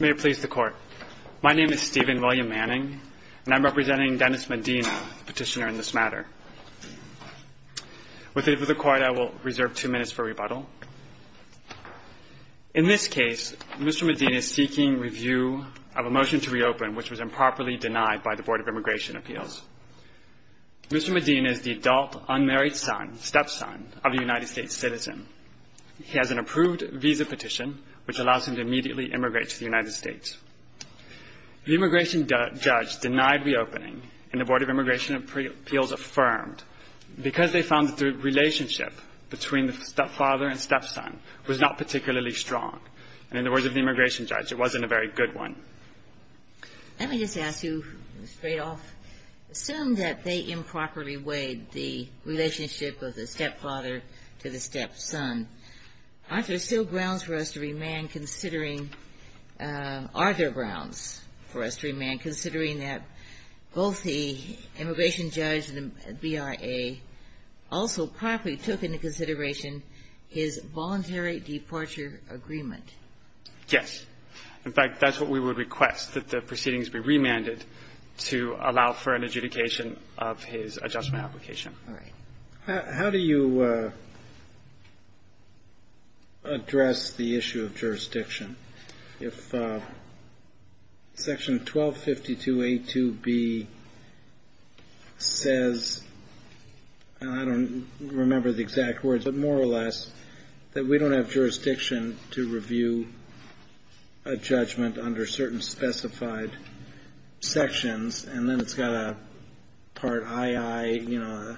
May it please the Court. My name is Stephen William Manning, and I'm representing Dennis Medina, the petitioner in this matter. With the leave of the Court, I will reserve two minutes for rebuttal. In this case, Mr. Medina is seeking review of a motion to reopen which was improperly denied by the Board of Immigration Appeals. Mr. Medina is the adult unmarried son, stepson, of a United States citizen. He has an approved visa petition which allows him to immediately immigrate to the United States. The immigration judge denied reopening, and the Board of Immigration Appeals affirmed, because they found that the relationship between the stepfather and stepson was not particularly strong. And in the words of the immigration judge, it wasn't a very good one. Let me just ask you, straight off, assume that they improperly weighed the relationship of the stepfather to the stepson. Aren't there still grounds for us to remand considering – are there grounds for us to remand considering that both the immigration judge and the BIA also properly took into consideration his voluntary deporture agreement? Yes. In fact, that's what we would request, that the proceedings be remanded to allow for an adjudication of his adjustment application. All right. How do you address the issue of jurisdiction? If Section 1252A2B says – I don't remember the exact words, but more or less that we don't have jurisdiction to review a judgment under certain specified sections, and then it's got a Part II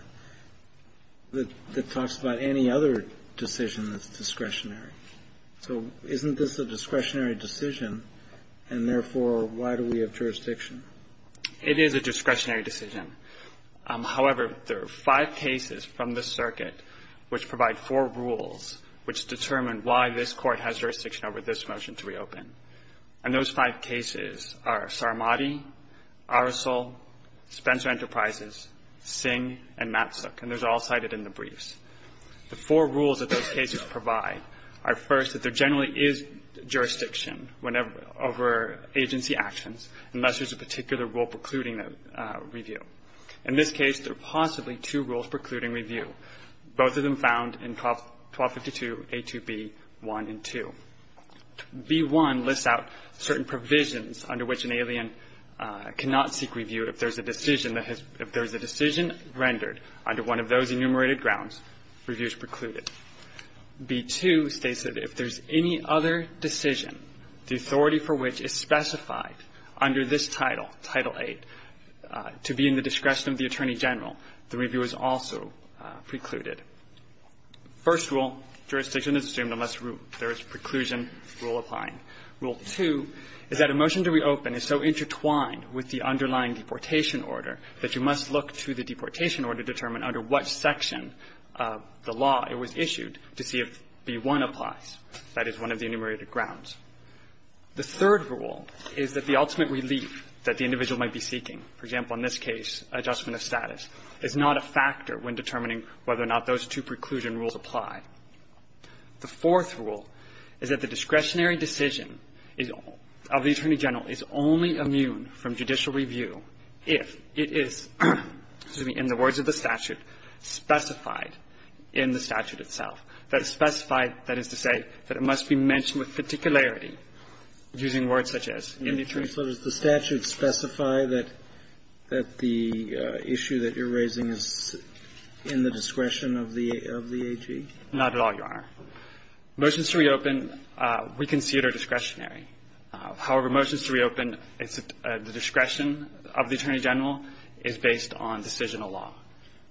that talks about any other decision that's discretionary. So isn't this a discretionary decision, and therefore, why do we have jurisdiction? It is a discretionary decision. However, there are five cases from this circuit which provide four rules which determine why this Court has jurisdiction over this motion to reopen. And those five cases are Saramati, Aracel, Spencer Enterprises, Singh, and Matsuk. And those are all cited in the briefs. The four rules that those cases provide are, first, that there generally is jurisdiction whenever – over agency actions unless there's a particular rule precluding a review. In this case, there are possibly two rules precluding review. Both of them found in 1252A2B1 and 2. B1 lists out certain provisions under which an alien cannot seek review if there's a decision that has – if there's a decision rendered under one of those enumerated grounds, review is precluded. B2 states that if there's any other decision, the authority for which is specified under this title, Title VIII, to be in the discretion of the Attorney General, the review is also precluded. First rule, jurisdiction is assumed unless there is preclusion rule applying. Rule 2 is that a motion to reopen is so intertwined with the underlying deportation order that you must look to the deportation order to determine under what section of the law it was issued to see if B1 applies. That is one of the enumerated grounds. The third rule is that the ultimate relief that the individual might be seeking, for example, in this case, adjustment of status, is not a factor when determining whether or not those two preclusion rules apply. The fourth rule is that the discretionary decision is – of the Attorney General is only immune from judicial review if it is, excuse me, in the words of the statute, specified in the statute itself. That specified, that is to say, that it must be mentioned with particularity using words such as, in the Attorney General's letters. Roberts, does the statute specify that the issue that you're raising is in the discretion of the AG? Not at all, Your Honor. Motions to reopen, we consider discretionary. However, motions to reopen, the discretion of the Attorney General is based on decisional law.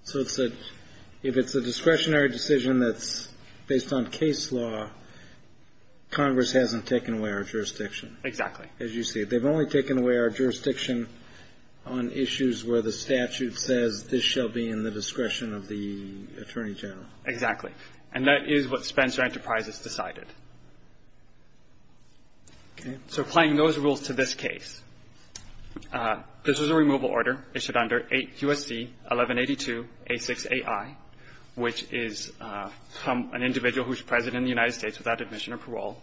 So it's a – if it's a discretionary decision that's based on case law, Congress hasn't taken away our jurisdiction. Exactly. As you see it. They've only taken away our jurisdiction on issues where the statute says this shall be in the discretion of the Attorney General. Exactly. And that is what Spencer Enterprises decided. Okay. So applying those rules to this case, this is a removal order issued under 8 U.S.C. 1182-A6-AI, which is from an individual who is present in the United States without admission or parole.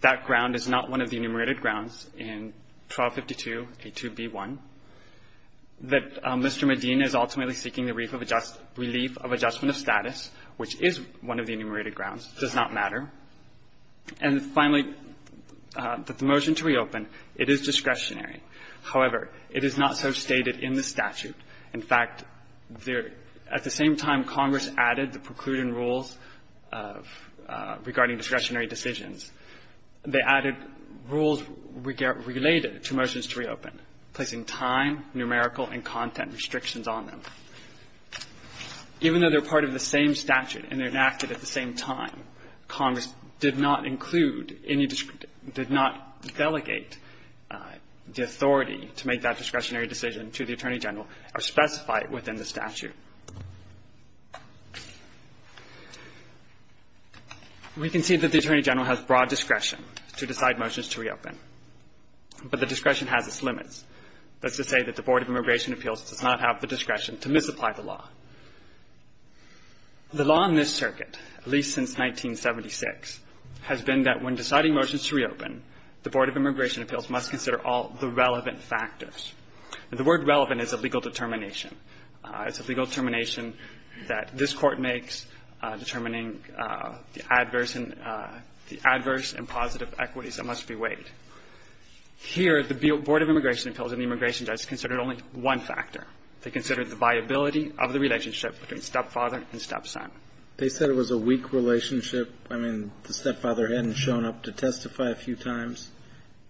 That ground is not one of the enumerated grounds in 1252-A2-B1. That Mr. Medina is ultimately seeking the relief of adjustment of status, which is one of the enumerated grounds, does not matter. And finally, that the motion to reopen, it is discretionary. However, it is not so stated in the statute. In fact, there – at the same time Congress added the preclusion rules of – regarding discretionary decisions, they added rules related to motions to reopen, placing time, numerical, and content restrictions on them. Even though they're part of the same statute and enacted at the same time, Congress did not include any – did not delegate the authority to make that discretionary decision to the Attorney General or specify it within the statute. We can see that the Attorney General has broad discretion to decide motions to reopen, but the discretion has its limits. That's to say that the Board of Immigration Appeals does not have the discretion to misapply the law. The law in this circuit, at least since 1976, has been that when deciding motions to reopen, the Board of Immigration Appeals must consider all the relevant factors. And the word relevant is a legal determination. It's a legal determination that this Court makes determining the adverse and – the adverse and positive equities that must be weighed. Here, the Board of Immigration Appeals and the immigration judge considered only one factor. They considered the viability of the relationship between stepfather and stepson. They said it was a weak relationship. I mean, the stepfather hadn't shown up to testify a few times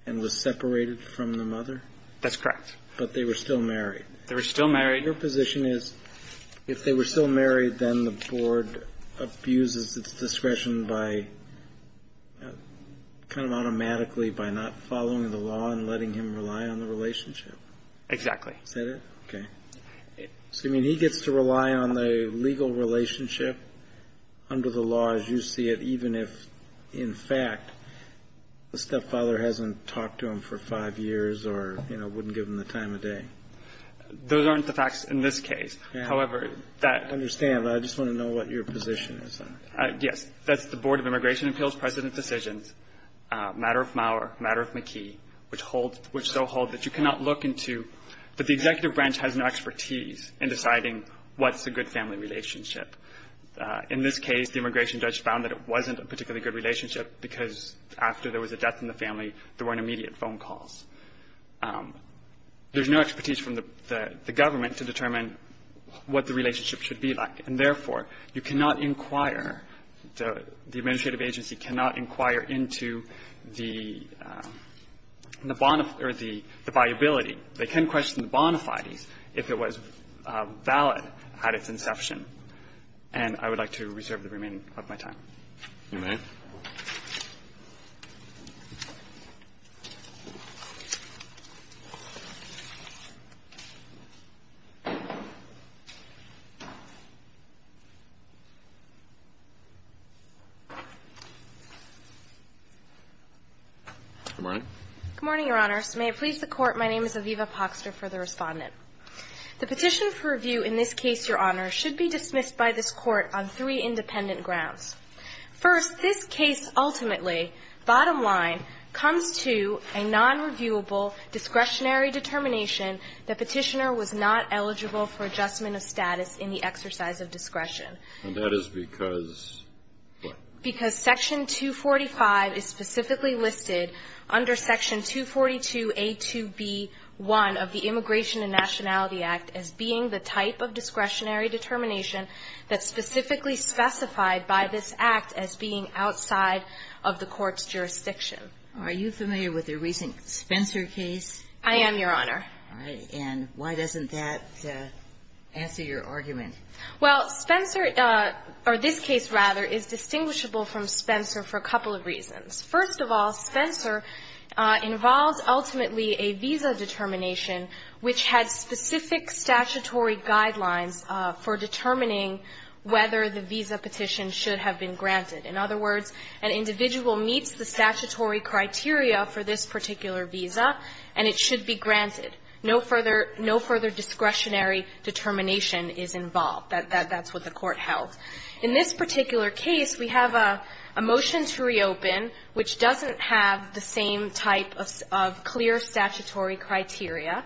and was separated from the mother? That's correct. But they were still married. They were still married. Your position is if they were still married, then the Board abuses its discretion by kind of automatically by not following the law and letting him rely on the relationship. Exactly. Is that it? Okay. So, I mean, he gets to rely on the legal relationship under the law as you see it, if, in fact, the stepfather hasn't talked to him for five years or, you know, wouldn't give him the time of day. Those aren't the facts in this case. However, that – I understand. I just want to know what your position is on it. Yes. That's the Board of Immigration Appeals precedent decisions, matter of Maurer, matter of McKee, which hold – which so hold that you cannot look into – that the executive branch has no expertise in deciding what's a good family relationship. In this case, the immigration judge found that it wasn't a particularly good relationship because after there was a death in the family, there weren't immediate phone calls. There's no expertise from the government to determine what the relationship should be like. And, therefore, you cannot inquire – the administrative agency cannot inquire into the bona – or the viability. They can question the bona fides if it was valid at its inception. And I would like to reserve the remaining of my time. You may. Good morning. Good morning, Your Honors. May it please the Court, my name is Aviva Poxter for the Respondent. The petition for review in this case, Your Honor, should be dismissed by this Court on three independent grounds. First, this case ultimately, bottom line, comes to a nonreviewable discretionary determination that Petitioner was not eligible for adjustment of status in the exercise of discretion. And that is because what? Because Section 245 is specifically listed under Section 242a2b1 of the Immigration and Nationality Act as being the type of discretionary determination that's specifically specified by this Act as being outside of the Court's jurisdiction. Are you familiar with the recent Spencer case? I am, Your Honor. All right. And why doesn't that answer your argument? Well, Spencer – or this case, rather, is distinguishable from Spencer for a couple of reasons. First of all, Spencer involves ultimately a visa determination which had specific statutory guidelines for determining whether the visa petition should have been granted. In other words, an individual meets the statutory criteria for this particular visa, and it should be granted. No further – no further discretionary determination is involved. That's what the Court held. In this particular case, we have a motion to reopen which doesn't have the same type of clear statutory criteria.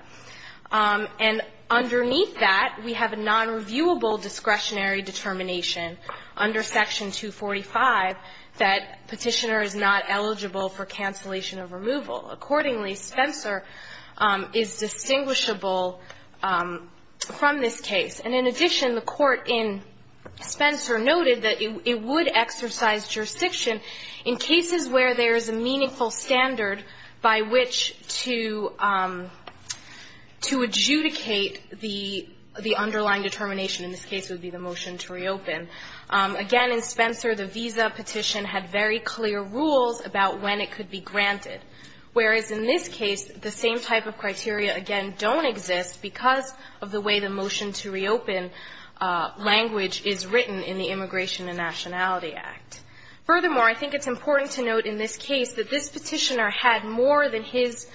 And underneath that, we have a nonreviewable discretionary determination under Section 245 that Petitioner is not eligible for cancellation of removal. Accordingly, Spencer is distinguishable from this case. And in addition, the Court in Spencer noted that it would exercise jurisdiction in cases where there is a meaningful standard by which to – to adjudicate the underlying determination. In this case, it would be the motion to reopen. Again, in Spencer, the visa petition had very clear rules about when it could be granted. Whereas in this case, the same type of criteria, again, don't exist because of the way the motion to reopen language is written in the Immigration and Nationality Act. Furthermore, I think it's important to note in this case that this Petitioner had more than his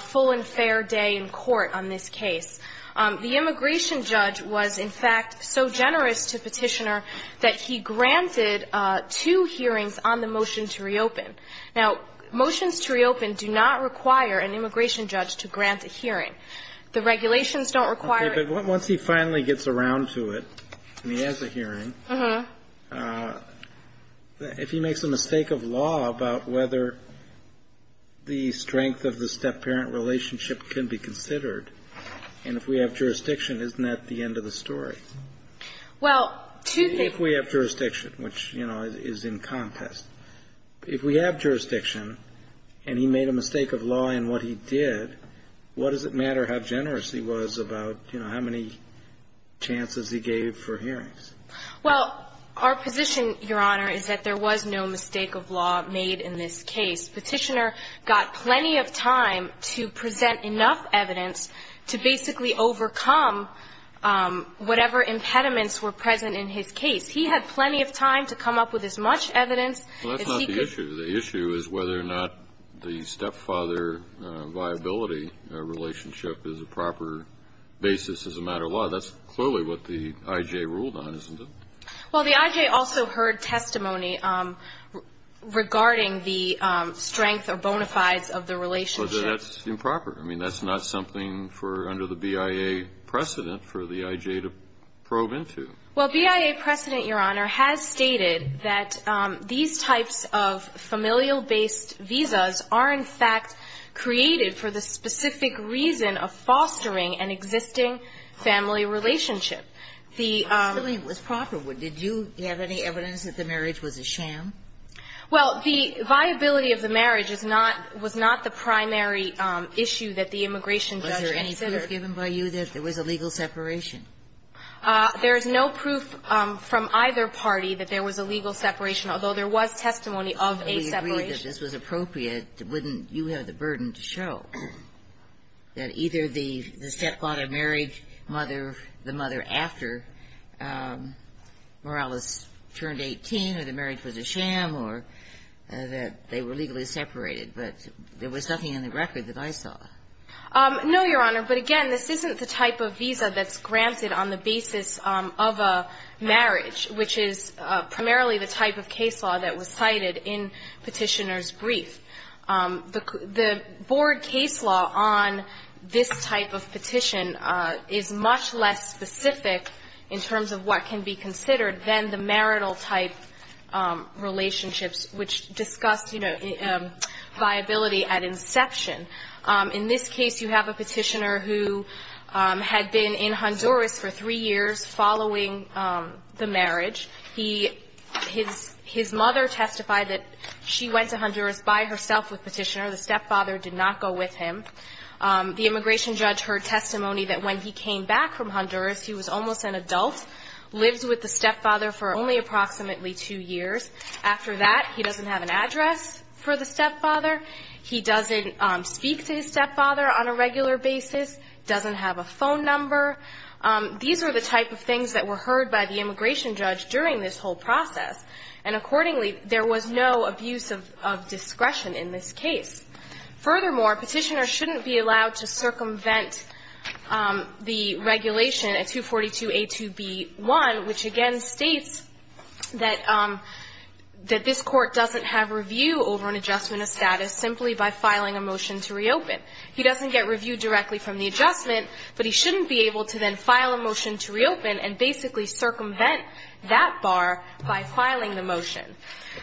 full and fair day in court on this case. The immigration judge was, in fact, so generous to Petitioner that he granted two hearings on the motion to reopen. Now, motions to reopen do not require an immigration judge to grant a hearing. The regulations don't require it. Kennedy. But once he finally gets around to it and he has a hearing, if he makes a mistake of law about whether the strength of the step-parent relationship can be considered, and if we have jurisdiction, isn't that the end of the story? Well, to the – If we have jurisdiction, which, you know, is in contest. If we have jurisdiction and he made a mistake of law in what he did, what does it matter how generous he was about, you know, how many chances he gave for hearings? Well, our position, Your Honor, is that there was no mistake of law made in this case. Petitioner got plenty of time to present enough evidence to basically overcome whatever impediments were present in his case. He had plenty of time to come up with as much evidence as he could. Well, that's not the issue. The issue is whether or not the step-father viability relationship is a proper basis as a matter of law. That's clearly what the I.J. ruled on, isn't it? Well, the I.J. also heard testimony regarding the strength or bona fides of the relationship. But that's improper. I mean, that's not something for – under the BIA precedent for the I.J. to probe into. Well, BIA precedent, Your Honor, has stated that these types of familial-based visas are, in fact, created for the specific reason of fostering an existing family relationship. The – If it really was proper, did you have any evidence that the marriage was a sham? Well, the viability of the marriage is not – was not the primary issue that the immigration judge insisted of – Was there any clear given by you that there was a legal separation? There is no proof from either party that there was a legal separation, although there was testimony of a separation. If we agreed that this was appropriate, wouldn't you have the burden to show that either the step-daughter married mother – the mother after Morales turned 18, or the marriage was a sham, or that they were legally separated? But there was nothing in the record that I saw. No, Your Honor. But again, this isn't the type of visa that's granted on the basis of a marriage, which is primarily the type of case law that was cited in Petitioner's brief. The – the board case law on this type of petition is much less specific in terms of what can be considered than the marital-type relationships, which discussed, you know, viability at inception. In this case, you have a petitioner who had been in Honduras for three years following the marriage. He – his – his mother testified that she went to Honduras by herself with Petitioner, the step-father did not go with him. The immigration judge heard testimony that when he came back from Honduras, he was almost an adult, lived with the step-father for only approximately two years. After that, he doesn't have an address for the step-father. He doesn't speak to his step-father on a regular basis, doesn't have a phone number. These are the type of things that were heard by the immigration judge during this whole process. And accordingly, there was no abuse of – of discretion in this case. Furthermore, Petitioner shouldn't be allowed to circumvent the regulation at 242a2b1, which again states that – that this court doesn't have review over an adjustment of status simply by filing a motion to reopen. He doesn't get review directly from the adjustment, but he shouldn't be able to then file a motion to reopen and basically circumvent that bar by filing the motion.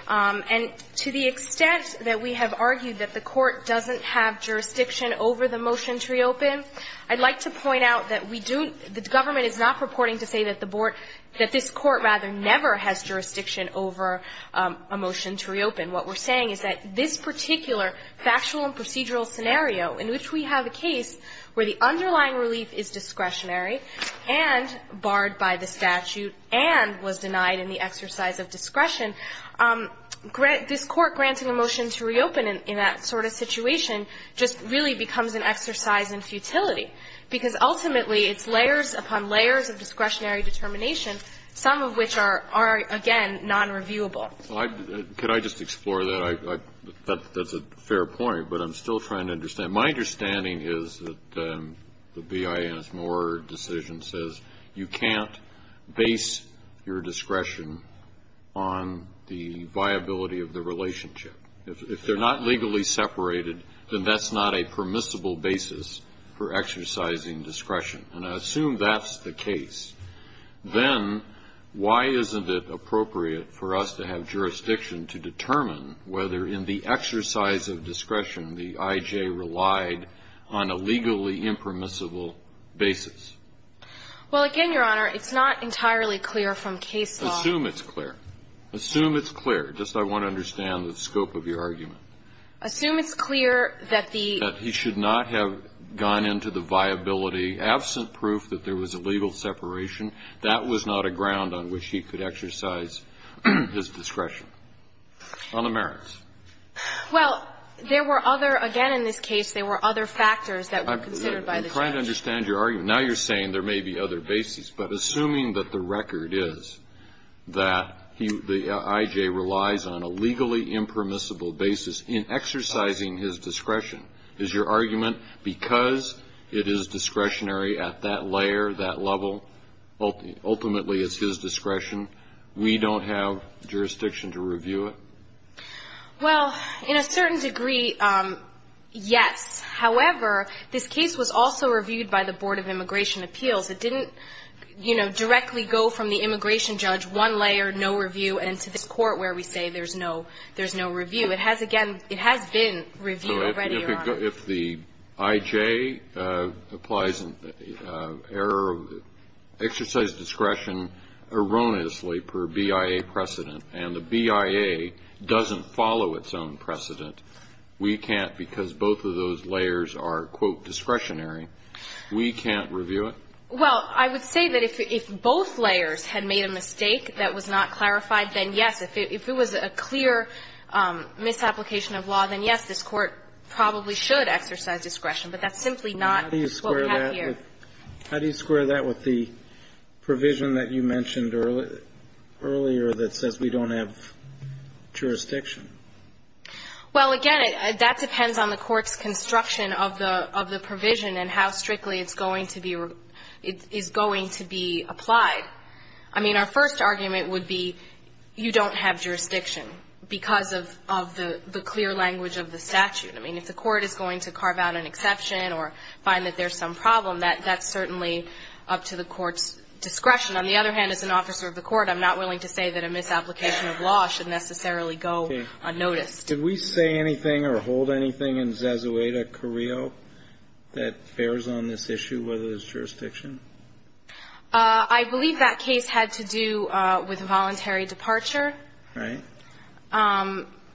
And to the extent that we have argued that the court doesn't have jurisdiction over the motion to reopen, I'd like to point out that we do – the government is not purporting to say that the board – that this court rather never has jurisdiction over a motion to reopen. What we're saying is that this particular factual and procedural scenario in which we have a case where the underlying relief is discretionary and barred by the statute and was denied in the exercise of discretion, this Court granting a motion to reopen in that sort of situation just really becomes an exercise in futility, because ultimately it's layers upon layers of discretionary determination, some of which are – are, again, nonreviewable. Well, I – could I just explore that? I – that's a fair point, but I'm still trying to understand. My understanding is that the BIS Moore decision says you can't base your discretion on the viability of the relationship. If they're not legally separated, then that's not a permissible basis for exercising discretion. And I assume that's the case. Then why isn't it appropriate for us to have jurisdiction to determine whether in the exercise of discretion the I.J. relied on a legally impermissible basis? Well, again, Your Honor, it's not entirely clear from case law. Assume it's clear. Assume it's clear. Just I want to understand the scope of your argument. Assume it's clear that the – That he should not have gone into the viability. Absent proof that there was a legal separation, that was not a ground on which he could exercise his discretion. On the merits. Well, there were other – again, in this case, there were other factors that were considered by the judge. I'm trying to understand your argument. Now you're saying there may be other bases. But assuming that the record is that he – the I.J. relies on a legally impermissible basis in exercising his discretion, is your argument because it is discretionary at that layer, that level, ultimately it's his discretion, we don't have jurisdiction to review it? Well, in a certain degree, yes. However, this case was also reviewed by the Board of Immigration Appeals. It didn't, you know, directly go from the immigration judge, one layer, no review, and to this court where we say there's no – there's no review. If the I.J. applies an error of exercise of discretion erroneously per BIA precedent and the BIA doesn't follow its own precedent, we can't, because both of those layers are, quote, discretionary, we can't review it? Well, I would say that if both layers had made a mistake that was not clarified, then, yes, if it was a clear misapplication of law, then, yes, this court probably should exercise discretion, but that's simply not what we have here. How do you square that with the provision that you mentioned earlier that says we don't have jurisdiction? Well, again, that depends on the court's construction of the provision and how strictly it's going to be – is going to be applied. I mean, our first argument would be you don't have jurisdiction because of the clear language of the statute. I mean, if the court is going to carve out an exception or find that there's some problem, that's certainly up to the court's discretion. On the other hand, as an officer of the court, I'm not willing to say that a misapplication of law should necessarily go unnoticed. Okay. Did we say anything or hold anything in Zazueta-Carrillo that bears on this issue, whether there's jurisdiction? I believe that case had to do with voluntary departure. Right.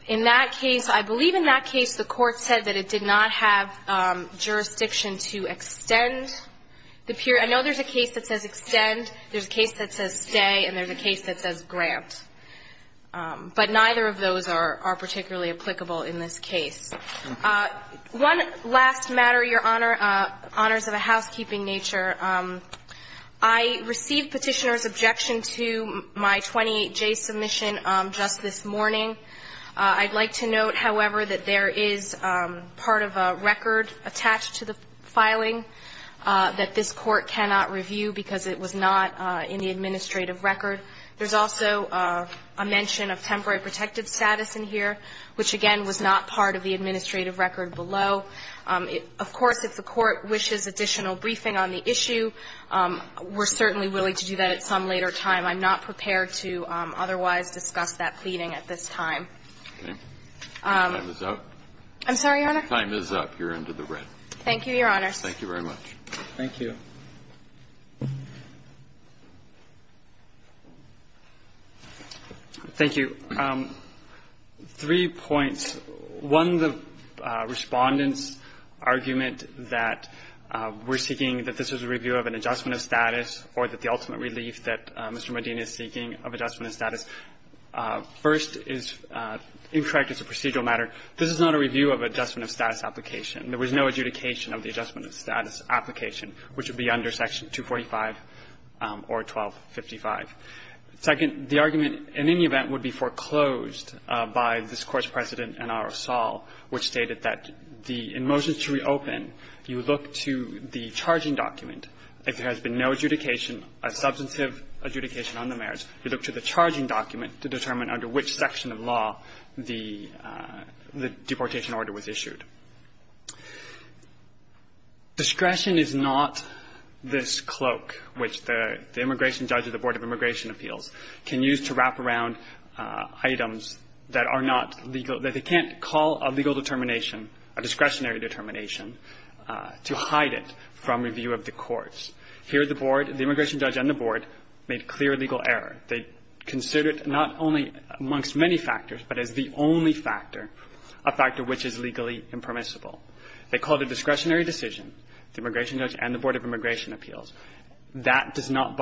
In that case, I believe in that case the court said that it did not have jurisdiction to extend the period. I know there's a case that says extend, there's a case that says stay, and there's a case that says grant. But neither of those are particularly applicable in this case. One last matter, Your Honor, honors of a housekeeping nature. I received Petitioner's objection to my 28J submission just this morning. I'd like to note, however, that there is part of a record attached to the filing that this Court cannot review because it was not in the administrative record. There's also a mention of temporary protective status in here, which, again, was not part of the administrative record below. Of course, if the Court wishes additional briefing on the issue, we're certainly willing to do that at some later time. I'm not prepared to otherwise discuss that pleading at this time. Okay. Time is up. I'm sorry, Your Honor? Time is up. You're under the red. Thank you, Your Honor. Thank you very much. Thank you. Thank you. Three points. One, the Respondent's argument that we're seeking that this is a review of an adjustment of status or that the ultimate relief that Mr. Medina is seeking of adjustment of status, first, is incorrect as a procedural matter. This is not a review of adjustment of status application. There was no adjudication of the adjustment of status application, which would be under Section 245 or 1255. Second, the argument, in any event, would be foreclosed by this Court's precedent in R. O'Sull, which stated that the – in motions to reopen, you look to the charging document. If there has been no adjudication, a substantive adjudication on the merits, you look to the charging document to determine under which section of law the – the deportation order was issued. Discretion is not this cloak, which the immigration judge or the Board of Immigration Appeals can use to wrap around items that are not legal – that they can't call a legal determination, a discretionary determination, to hide it from review of the courts. Here, the Board – the immigration judge and the Board made clear legal error. They considered not only amongst many factors, but as the only factor, a factor which is legally impermissible. They called a discretionary decision, the immigration judge and the Board of Immigration Appeals. So let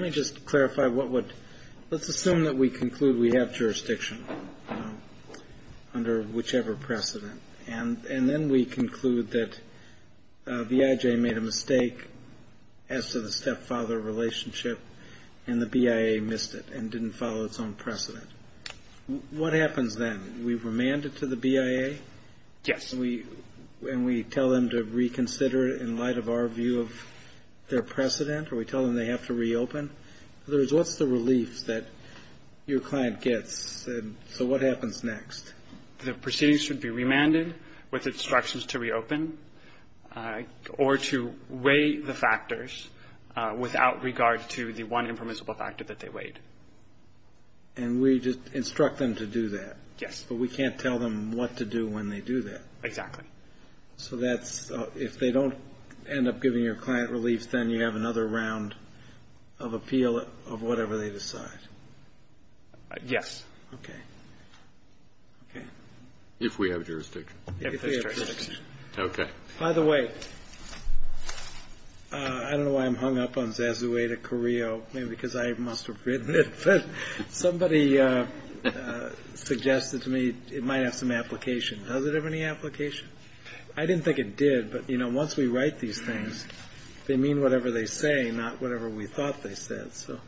me just clarify what would – let's assume that we conclude we have jurisdiction under whichever precedent, and then we conclude that VIJ made a mistake as to the stepfather relationship, and the BIA missed it and didn't follow its own precedent. What happens then? We remand it to the BIA? Yes. And we – and we tell them to reconsider it in light of our view of their precedent, or we tell them they have to reopen? In other words, what's the relief that your client gets? And so what happens next? The proceedings should be remanded with instructions to reopen or to weigh the factors without regard to the one impermissible factor that they weighed. And we just instruct them to do that? Yes. But we can't tell them what to do when they do that? Exactly. So that's – if they don't end up giving your client relief, then you have another round of appeal of whatever they decide? Yes. Okay. Okay. If we have jurisdiction. If we have jurisdiction. Okay. By the way, I don't know why I'm hung up on Zazueta-Carrillo, maybe because I must have written it, but somebody suggested to me it might have some application. Does it have any application? I didn't think it did, but, you know, once we write these things, they mean whatever they say, not whatever we thought they said. So.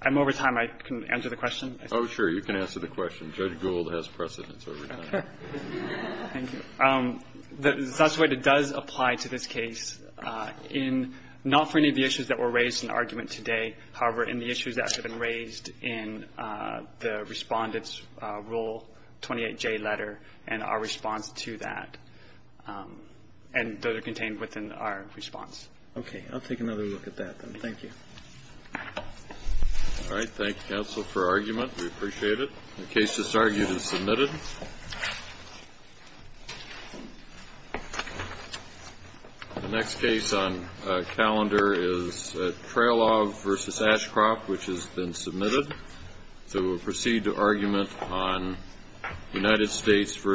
I'm over time. I can answer the question? Oh, sure. You can answer the question. Judge Gould has precedence over time. Okay. Thank you. Zazueta does apply to this case in – not for any of the issues that were raised in the argument today, however, in the issues that have been raised in the Respondent's 28J letter and our response to that. And those are contained within our response. Okay. I'll take another look at that, then. Thank you. All right. Thank you, counsel, for argument. We appreciate it. The case that's argued is submitted. The next case on calendar is Traylov v. Ashcroft, which has been submitted. So we'll proceed to argument on United States v. Zamora Brambilio.